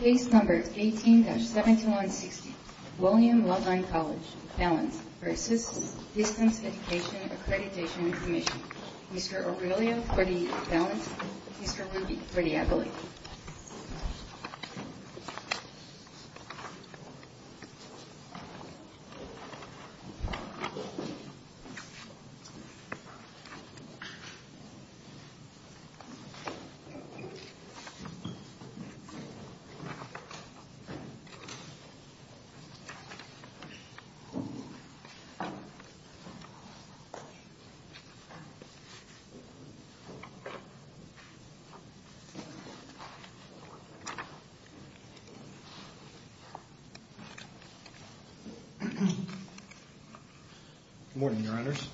Case number 18-7160, William Loveland College, balance, v. Distance Education Accreditation Commission Mr. Aurelio for the balance, Mr. Ruby for the ability Good morning, your honors.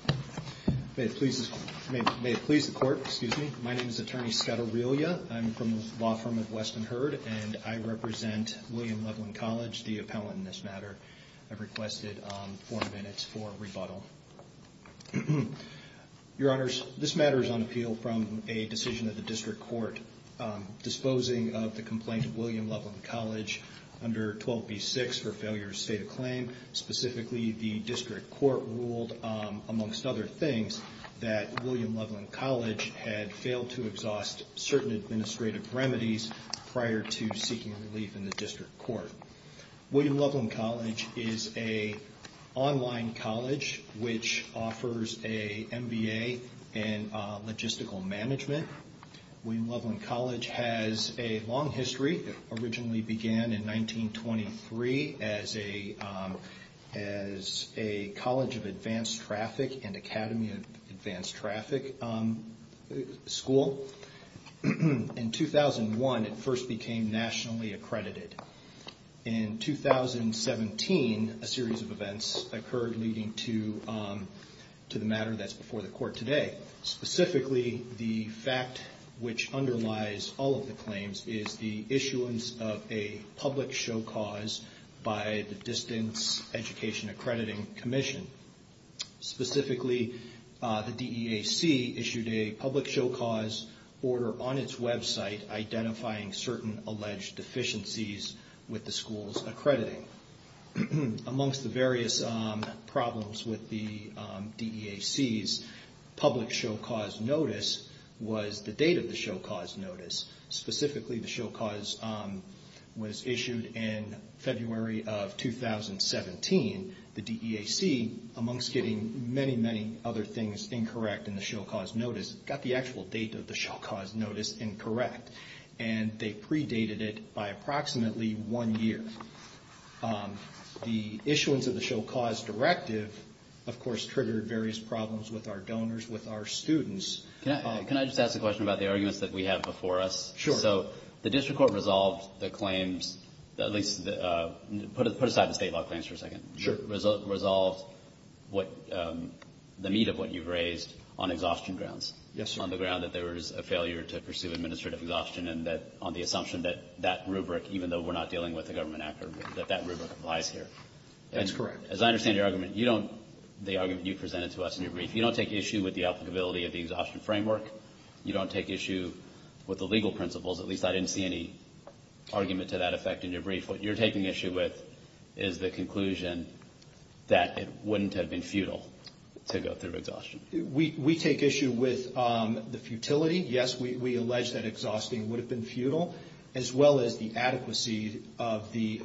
May it please the court, my name is attorney Scott Aurelio. I'm from the law firm of Weston Heard and I represent William Loveland College, the appellant in this matter. I've requested four minutes for rebuttal. Your honors, this matter is on appeal from a decision of the district court disposing of the complaint of William Loveland College under 12b6 for failure to state a claim. Specifically, the district court ruled, amongst other things, that prior to seeking relief in the district court. William Loveland College is an online college which offers an MBA in logistical management. William Loveland College has a long history. It originally began in 1923 as a college of advanced traffic and academy of advanced traffic school. In 2001, it first became nationally accredited. In 2017, a series of events occurred leading to the matter that's before the court today. Specifically, the fact which underlies all of the claims is the issuance of a public show cause by the Distance Education Accrediting Commission. Specifically, the DEAC issued a public show cause order on its website identifying certain alleged deficiencies with the school's accrediting. Amongst the various problems with the DEAC's public show cause notice was the date of the show cause notice. Specifically, the show cause was issued in February of 2017. The DEAC, amongst getting many, many other things incorrect in the show cause notice, got the actual date of the show cause notice incorrect. They predated it by approximately one year. The issuance of the show cause directive, of course, triggered various problems with our donors, with our students. Can I just ask a question about the arguments that we have before us? Sure. So the district court resolved the claims, at least put aside the state law claims for a second. Sure. Resolved the meat of what you've raised on exhaustion grounds. Yes, sir. On the ground that there was a failure to pursue administrative exhaustion and that on the assumption that that rubric, even though we're not dealing with a government actor, that that rubric applies here. That's correct. As I understand your argument, you don't, the argument you presented to us in your brief, you don't take issue with the applicability of the exhaustion framework. You don't take issue with the legal principles. At least I didn't see any argument to that effect in your brief. What you're taking issue with is the conclusion that it wouldn't have been futile to go through exhaustion. We take issue with the futility. Yes, we allege that exhausting would have been futile, as well as the adequacy of the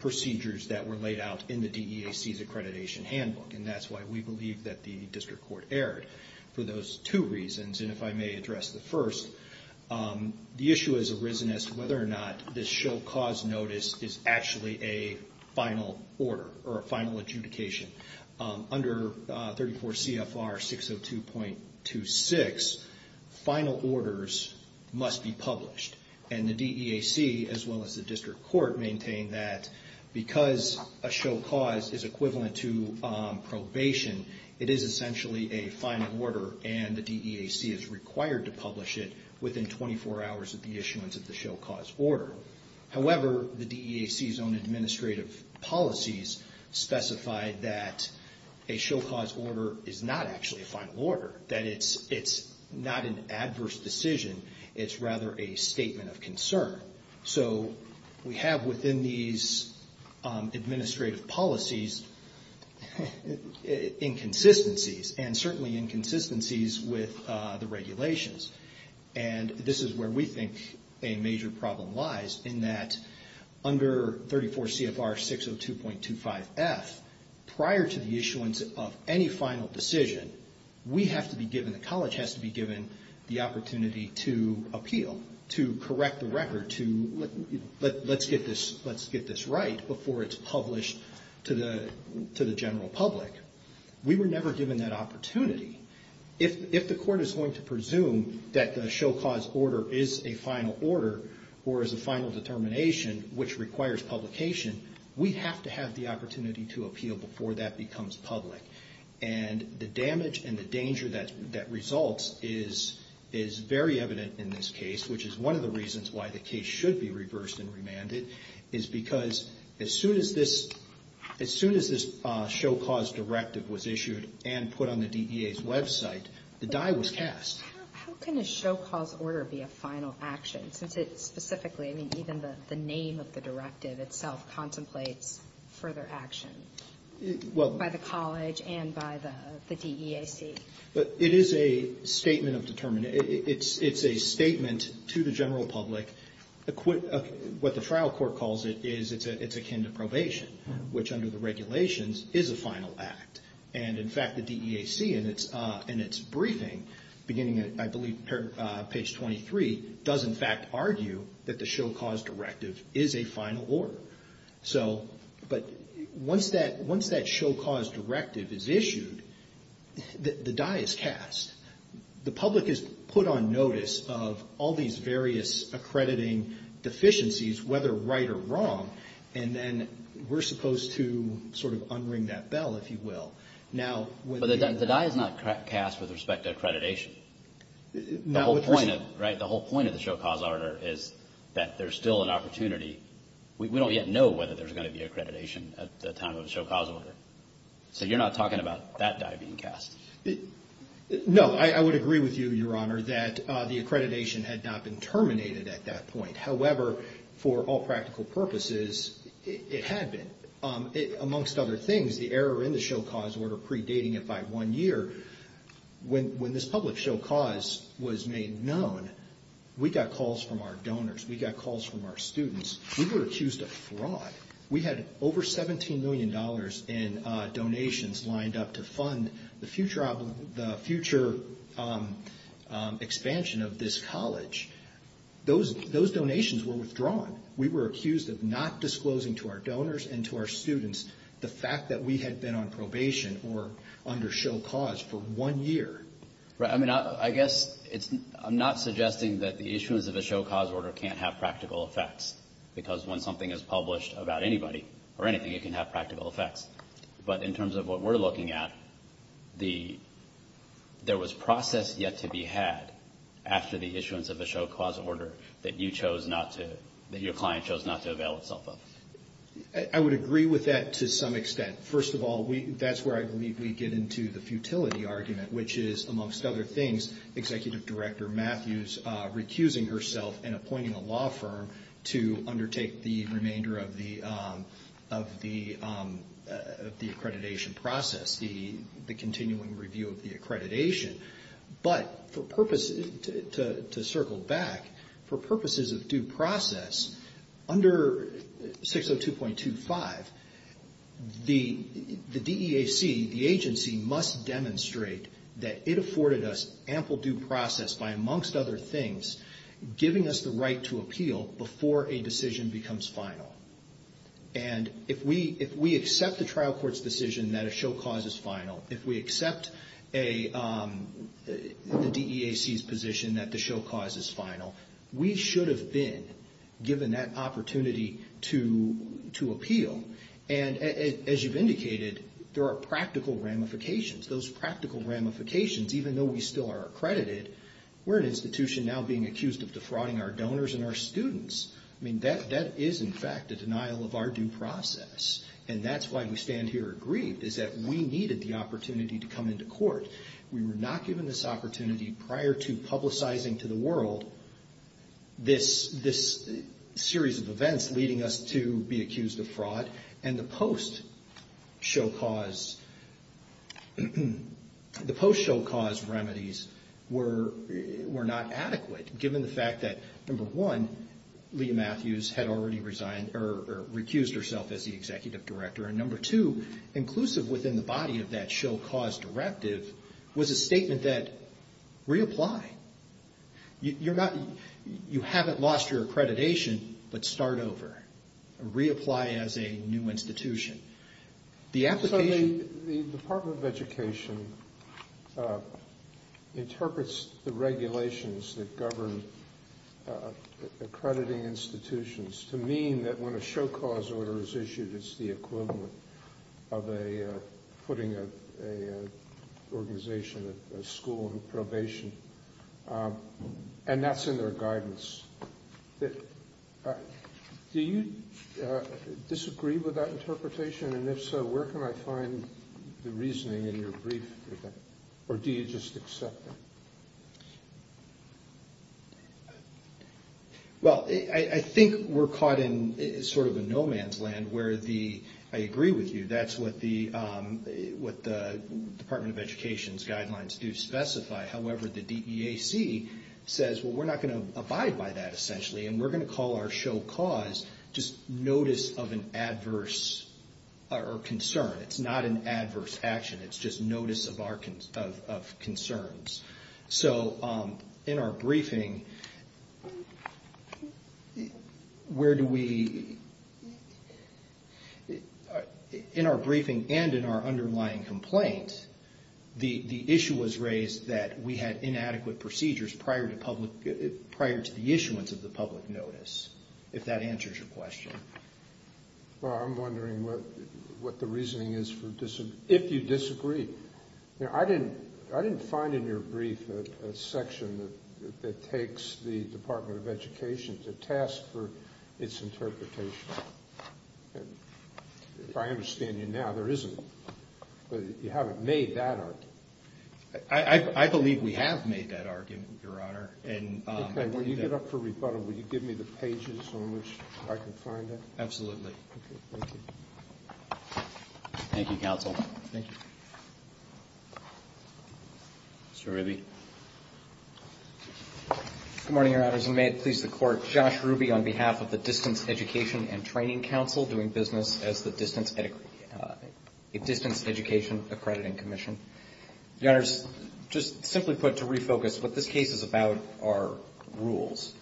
procedures that were laid out in the DEAC's accreditation handbook. And that's why we believe that the district court erred. For those two reasons, and if I may address the first, the issue has arisen as to whether or not this show cause notice is actually a final order or a final adjudication. Under 34 CFR 602.26, final orders must be published. And the DEAC, as well as the district court, maintain that because a show cause is equivalent to probation, it is essentially a final order and the DEAC is own administrative policies specified that a show cause order is not actually a final order. That it's not an adverse decision, it's rather a statement of concern. So we have within these administrative policies inconsistencies and certainly inconsistencies with the regulations. And this is where we think a major problem lies in that under 34 CFR 602.25F, prior to the issuance of any final decision, we have to be given, the college has to be given the opportunity to appeal, to correct the record, to let's get this right before it's published to the general public. We were never given that opportunity. If the court is going to presume that the show cause order is a final order or is a final determination which requires publication, we have to have the opportunity to appeal before that becomes public. And the damage and the danger that results is very evident in this case, which is one of the reasons why the case should be reversed and remanded, is because as soon as this show cause directive was issued and put on the DEA's website, the die was cast. How can a show cause order be a final action, since it specifically, even the name of the directive itself is a statement of determination. It's a statement to the general public. What the trial court calls it is it's akin to probation, which under the regulations is a final act. And in fact, the DEAC in its briefing, beginning I believe page 23, does in fact argue that the show cause directive is a final order. So, but once that show cause directive is issued, the die is cast. The public is put on notice of all these various accrediting deficiencies, whether right or wrong, and then we're supposed to sort of unring that bell, if you will. Now, whether the die is not cast with respect to accreditation, the whole point of the show cause order is that there's still an opportunity. We don't yet know whether there's going to be accreditation at the time of the show cause order. So you're not talking about that die being cast. No, I would agree with you, Your Honor, that the accreditation had not been terminated at that point. However, for all practical purposes, it had been. Amongst other things, the error in the show cause order predating it by one year, when this public show cause was made known, we got calls from our donors. We got calls from our students. We were accused of fraud. We had over $17 million in donations lined up to fund the future expansion of this college. Those donations were withdrawn. We were accused of not disclosing to our donors and to our students the fact that we had been on probation or under show cause for one year. Right. I mean, I guess I'm not suggesting that the issuance of a show cause order can't have practical effects, because when something is published about anybody or anything, it can have practical effects. But in terms of what we're looking at, there was process yet to be had after the issuance of a show cause order that you chose not to, that your client chose not to avail itself of. I would agree with that to some extent. First of all, that's where I believe we get into the futility argument, which is, amongst other things, Executive Director Matthews recusing herself and appointing a law firm to undertake the remainder of the accreditation process, the continuing review of the accreditation. But to circle back, for purposes of due process, under 602.25, the DEAC, the agency, must demonstrate that it afforded us ample due process by, amongst other things, giving us the right to appeal before a decision becomes final. And if we accept the trial court's decision that a show cause is final, if we accept the DEAC's position that the show cause is final, we should have been given that opportunity to appeal. And as you've indicated, there are practical ramifications. Those practical ramifications, even though we still are accredited, we're an institution now being accused of defrauding our donors and our students. I mean, that is, in fact, a denial of our due process. And that's why we stand here aggrieved, is that we needed the opportunity to come into court. We were not given this opportunity prior to publicizing to the world this series of events leading us to be accused of fraud. And the post-show cause remedies were not adequate, given the fact that, number one, Leah Matthews had already recused herself as the executive director. And number two, inclusive within the body of that show cause directive was a statement that, reapply. You haven't lost your accreditation, but start over. Reapply as a new institution. The application... accrediting institutions to mean that when a show cause order is issued, it's the equivalent of putting an organization at school on probation. And that's in their guidance. Do you disagree with that interpretation? And if so, where can I find the reasoning in your brief? Or do you just accept it? Well, I think we're caught in sort of a no-man's land where the... I agree with you. That's what the Department of Education's guidelines do specify. However, the DEAC says, well, we're not going to abide by that, essentially, and we're going to call our show cause just notice of an adverse or concern. It's not an adverse action. It's just notice of concerns. So, in our briefing, where do we... in our briefing and in our underlying complaint, the issue was raised that we had inadequate procedures prior to the issuance of the public notice, if that answers your question. Well, I'm wondering what the reasoning is for... if you disagree. I didn't find in your brief a section that takes the Department of Education to task for its interpretation. If I understand you now, there isn't. But you haven't made that argument. I believe we have made that argument, Your Honor. Okay. When you get up for rebuttal, will you give me the pages on which I can find it? Absolutely. Okay. Thank you. Thank you, counsel. Thank you. Mr. Ruby. Good morning, Your Honors. And may it please the Court, Josh Ruby on behalf of the Distance Education and Training Council doing business as the Distance Education Accrediting Commission. Your Honors, just simply put, to refocus, what this case is about are rules.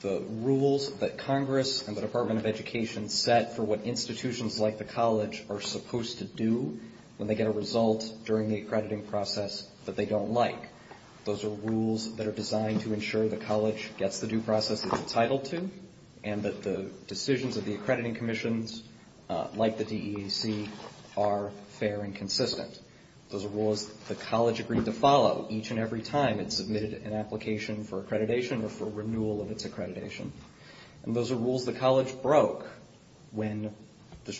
The rules that Congress and the Department of Education set for what institutions like the college are supposed to do when they get a result during the accrediting process that they don't like. Those are rules that are designed to ensure the college gets the due process it's entitled to and that the decisions of the accrediting commissions, like the DEAC, are fair and consistent. Those are rules the college agreed to follow each and every time it submitted an application for accreditation or for renewal of its accreditation. And those are rules the college broke when the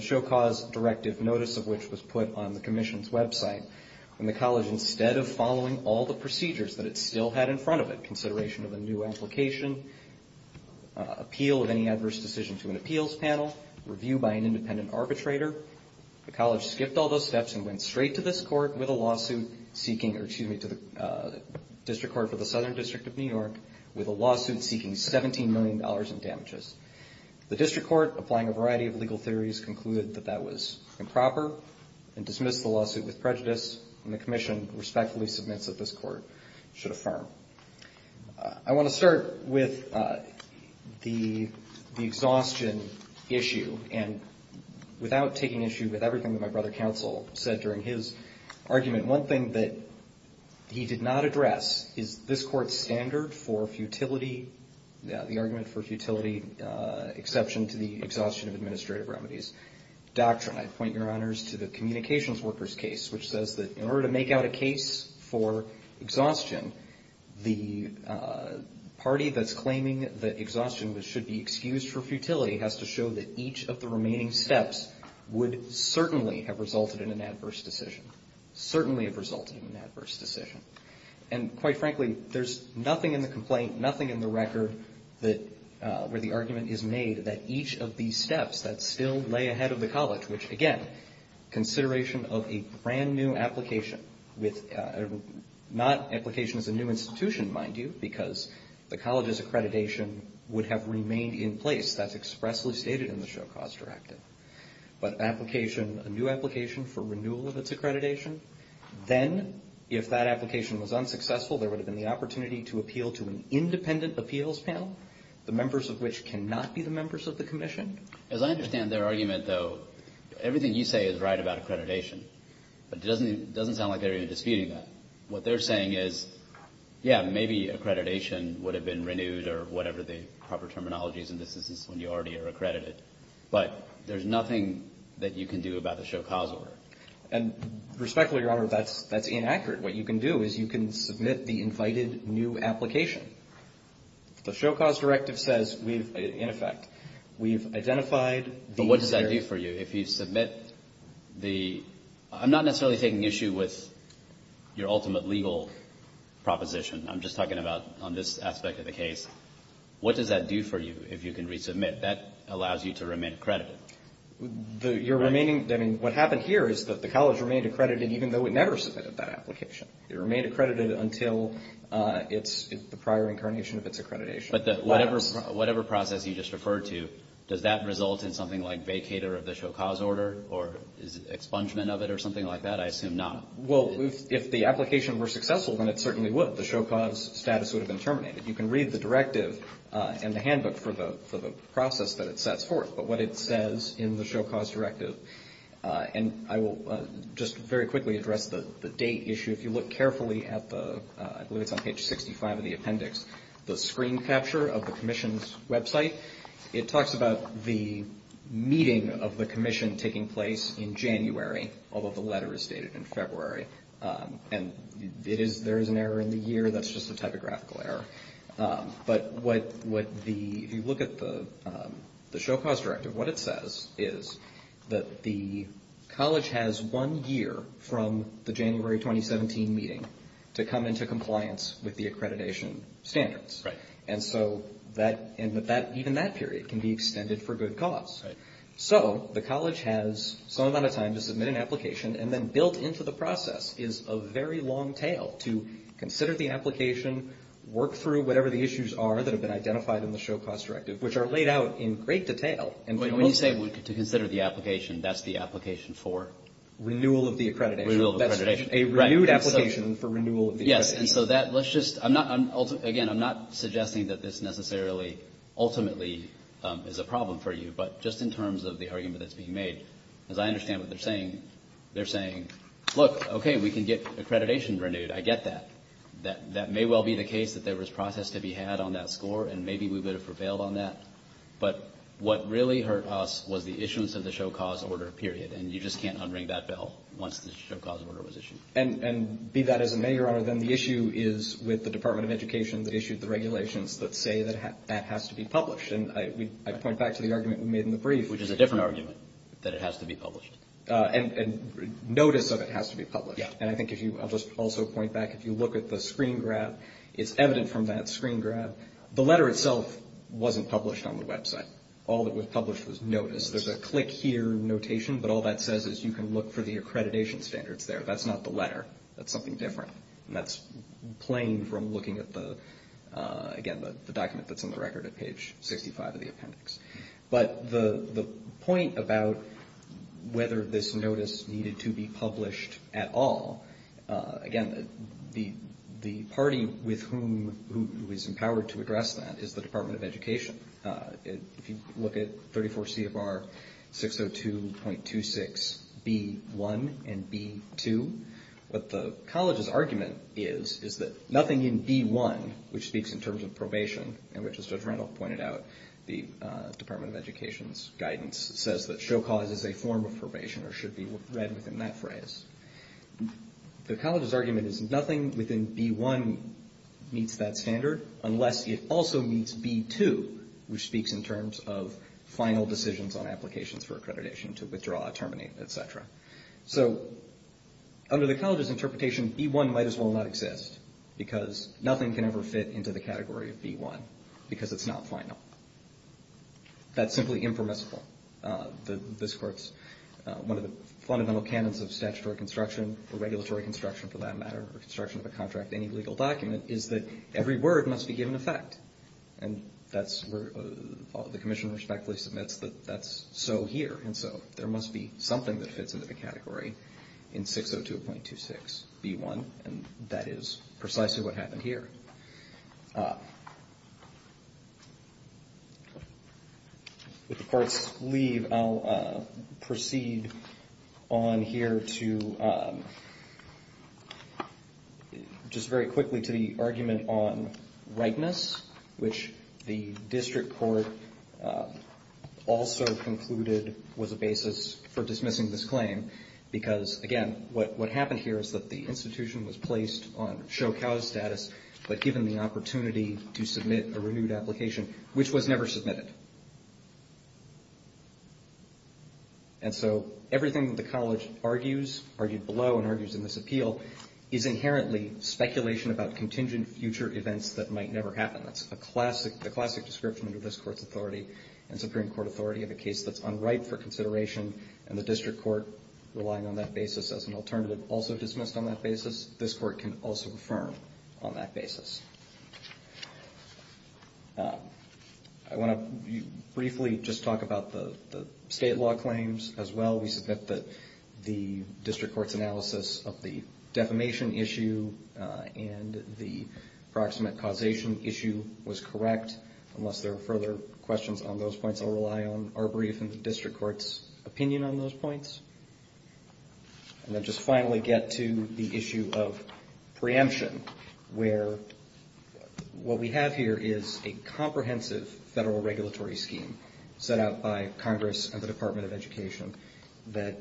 Show Cause Directive, notice of which was put on the commission's website, when the college, instead of following all the procedures that it still had in front of it, consideration of a new application, appeal of any adverse decision to an appeals panel, review by an independent arbitrator, the college skipped all those steps and went straight to this court with a lawsuit seeking, or excuse me, to the District Court for the Southern District of New York with a lawsuit seeking $17 million in damages. The District Court, applying a variety of legal theories, concluded that that was improper and dismissed the lawsuit with prejudice. And the commission respectfully submits that this court should affirm. I want to start with the exhaustion issue. And without taking issue with everything that my brother counsel said during his argument, one thing that he did not address is this court's standard for futility, the argument for futility exception to the exhaustion of administrative remedies doctrine. I point your honors to the communications workers case, which says that in order to make out a case for exhaustion, the party that's claiming that exhaustion should be excused for futility has to show that each of the remaining steps would certainly have resulted in an adverse decision. Certainly have resulted in an adverse decision. And quite frankly, there's nothing in the complaint, nothing in the record where the argument is made that each of these steps that still lay ahead of the college, which again, consideration of a brand new application, not application as a new institution, mind you, because the college's accreditation would have remained in place, that's expressly stated in the show cause directive. But application, a new application for renewal of its accreditation, then if that application was unsuccessful, there would have been the opportunity to appeal to an independent appeals panel, the members of which cannot be the members of the commission. As I understand their argument, though, everything you say is right about accreditation, but it doesn't sound like they're even disputing that. What they're saying is, yeah, maybe accreditation would have been renewed or whatever the proper terminology is in this instance when you already are accredited. But there's nothing that you can do about the show cause order. And respectfully, Your Honor, that's inaccurate. What you can do is you can submit the invited new application. The show cause directive says we've, in effect, we've identified the necessary. But what does that do for you if you submit the – I'm not necessarily taking issue with your ultimate legal proposition. I'm just talking about on this aspect of the case. What does that do for you if you can resubmit? That allows you to remain accredited. Your remaining – I mean, what happened here is that the college remained accredited even though it never submitted that application. It remained accredited until the prior incarnation of its accreditation. But whatever process you just referred to, does that result in something like vacator of the show cause order or expungement of it or something like that? I assume not. Well, if the application were successful, then it certainly would. The show cause status would have been terminated. You can read the directive in the handbook for the process that it sets forth. But what it says in the show cause directive – and I will just very quickly address the date issue. If you look carefully at the – I believe it's on page 65 of the appendix – the screen capture of the commission's website, it talks about the meeting of the commission taking place in January, although the letter is stated in February. And it is – there is an error in the year. That's just a typographical error. But what the – if you look at the show cause directive, what it says is that the college has one year from the January 2017 meeting to come into compliance with the accreditation standards. And so that – and even that period can be extended for good cause. So the college has some amount of time to submit an application. And then built into the process is a very long tail to consider the application, work through whatever the issues are that have been identified in the show cause directive, which are laid out in great detail. When you say to consider the application, that's the application for? Renewal of the accreditation. Renewal of the accreditation. A renewed application for renewal of the accreditation. Yes, and so that – let's just – again, I'm not suggesting that this necessarily ultimately is a problem for you. But just in terms of the argument that's being made, as I understand what they're saying, they're saying, look, okay, we can get accreditation renewed. I get that. That may well be the case that there was process to be had on that score, and maybe we would have prevailed on that. But what really hurt us was the issuance of the show cause order, period. And you just can't unring that bell once the show cause order was issued. And be that as it may, Your Honor, then the issue is with the Department of Education that issued the regulations that say that that has to be published. And I point back to the argument we made in the brief. Which is a different argument, that it has to be published. And notice of it has to be published. Yes. And I think if you – I'll just also point back, if you look at the screen grab, it's evident from that screen grab, the letter itself wasn't published on the website. All that was published was notice. There's a click here notation, but all that says is you can look for the accreditation standards there. That's not the letter. That's something different. And that's plain from looking at the, again, the document that's on the record at page 65 of the appendix. But the point about whether this notice needed to be published at all, again, the party with whom – who is empowered to address that is the Department of Education. If you look at 34 CFR 602.26B1 and B2, what the college's argument is, is that nothing in B1, which speaks in terms of probation, and which as Judge Randolph pointed out, the Department of Education's guidance, says that show cause is a form of probation or should be read within that phrase. The college's argument is nothing within B1 meets that standard unless it also meets B2, which speaks in terms of final decisions on applications for accreditation to withdraw, terminate, et cetera. So under the college's interpretation, B1 might as well not exist because nothing can ever fit into the category of B1 because it's not final. That's simply impermissible. This court's – one of the fundamental canons of statutory construction or regulatory construction, for that matter, or construction of a contract, any legal document, is that every word must be given effect. And that's where the commission respectfully submits that that's so here. And so there must be something that fits into the category in 602.26B1, and that is precisely what happened here. So with the court's leave, I'll proceed on here to just very quickly to the argument on rightness, which the district court also concluded was a basis for dismissing this claim. Because, again, what happened here is that the institution was placed on show cause status, but given the opportunity to submit a renewed application, which was never submitted. And so everything that the college argues, argued below and argues in this appeal, is inherently speculation about contingent future events that might never happen. That's a classic – the classic description under this court's authority and Supreme Court authority of a case that's unripe for consideration, and the district court relying on that basis as an alternative also dismissed on that basis. This court can also affirm on that basis. I want to briefly just talk about the state law claims as well. We submit that the district court's analysis of the defamation issue and the proximate causation issue was correct. Unless there are further questions on those points, I'll rely on our brief and the district court's opinion on those points. And then just finally get to the issue of preemption, where what we have here is a comprehensive federal regulatory scheme set out by Congress and the Department of Education that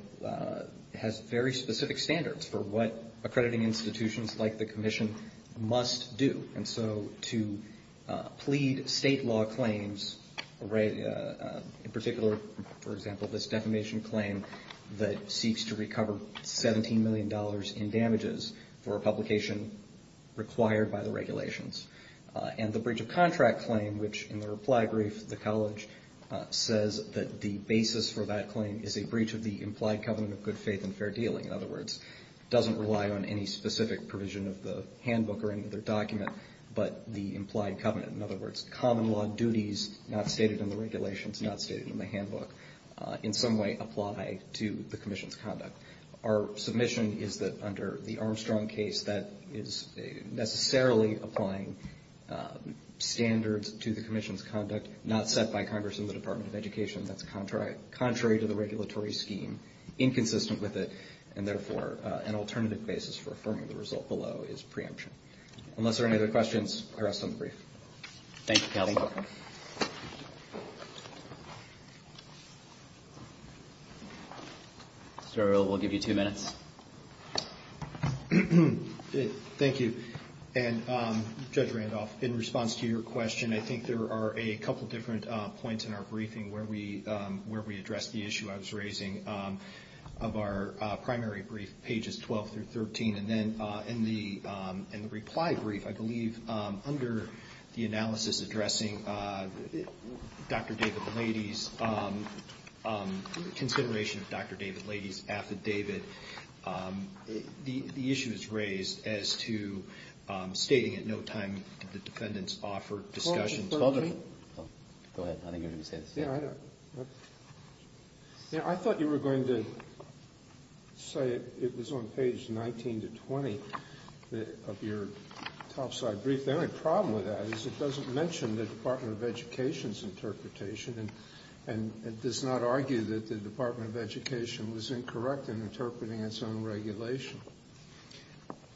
has very specific standards for what accrediting institutions like the commission must do. And so to plead state law claims, in particular, for example, this defamation claim, that seeks to recover $17 million in damages for a publication required by the regulations. And the breach of contract claim, which in the reply brief the college says that the basis for that claim is a breach of the implied covenant of good faith and fair dealing. In other words, it doesn't rely on any specific provision of the handbook or any other document, but the implied covenant. In other words, common law duties not stated in the regulations, not stated in the handbook, in some way apply to the commission's conduct. Our submission is that under the Armstrong case, that is necessarily applying standards to the commission's conduct, not set by Congress and the Department of Education. That's contrary to the regulatory scheme, inconsistent with it, and therefore an alternative basis for affirming the result below is preemption. Unless there are any other questions, I rest on the brief. Thank you, Counselor. Mr. O'Reilly, we'll give you two minutes. Thank you. And Judge Randolph, in response to your question, I think there are a couple different points in our briefing where we address the issue I was raising. Of our primary brief, pages 12 through 13, and then in the reply brief, I believe under the analysis addressing Dr. David Lady's consideration of Dr. David Lady's affidavit, the issue is raised as to stating at no time did the defendants offer discussion. 12 through 13? Go ahead. I think you were going to say this. I thought you were going to say it was on page 19 to 20 of your topside brief. The only problem with that is it doesn't mention the Department of Education's interpretation, and it does not argue that the Department of Education was incorrect in interpreting its own regulation.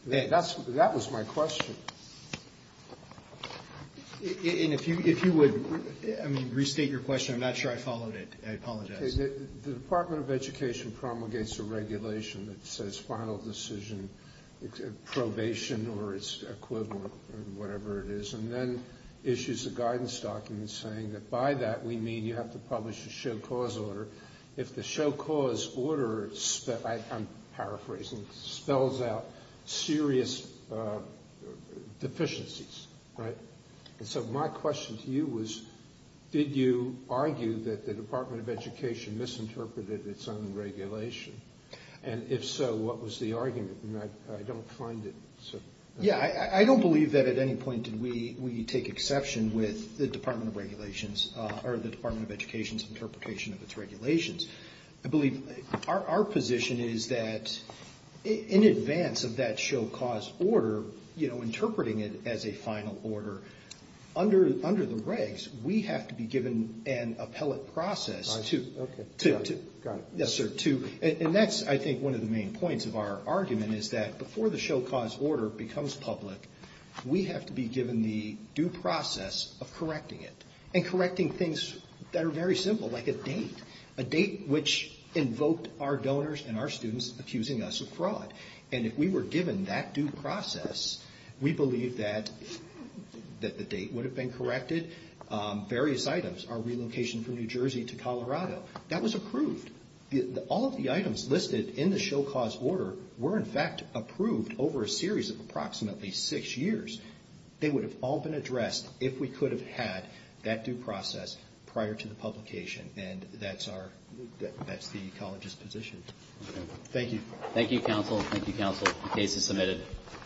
That was my question. And if you would restate your question, I'm not sure I followed it. I apologize. The Department of Education promulgates a regulation that says final decision, probation or its equivalent or whatever it is, and then issues a guidance document saying that by that we mean you have to publish a show cause order. If the show cause order, I'm paraphrasing, spells out serious deficiencies, right? So my question to you was did you argue that the Department of Education misinterpreted its own regulation? And if so, what was the argument? I don't find it. Yeah, I don't believe that at any point did we take exception with the Department of Regulations or the Department of Education's interpretation of its regulations. I believe our position is that in advance of that show cause order, you know, interpreting it as a final order, under the regs, we have to be given an appellate process. Okay. Got it. Yes, sir. And that's, I think, one of the main points of our argument is that before the show cause order becomes public, we have to be given the due process of correcting it and correcting things that are very simple, like a date, a date which invoked our donors and our students accusing us of fraud. And if we were given that due process, we believe that the date would have been corrected, various items, our relocation from New Jersey to Colorado. That was approved. All of the items listed in the show cause order were, in fact, approved over a series of approximately six years. They would have all been addressed if we could have had that due process prior to the publication, and that's the college's position. Thank you. Thank you, counsel. Thank you, counsel. The case is submitted.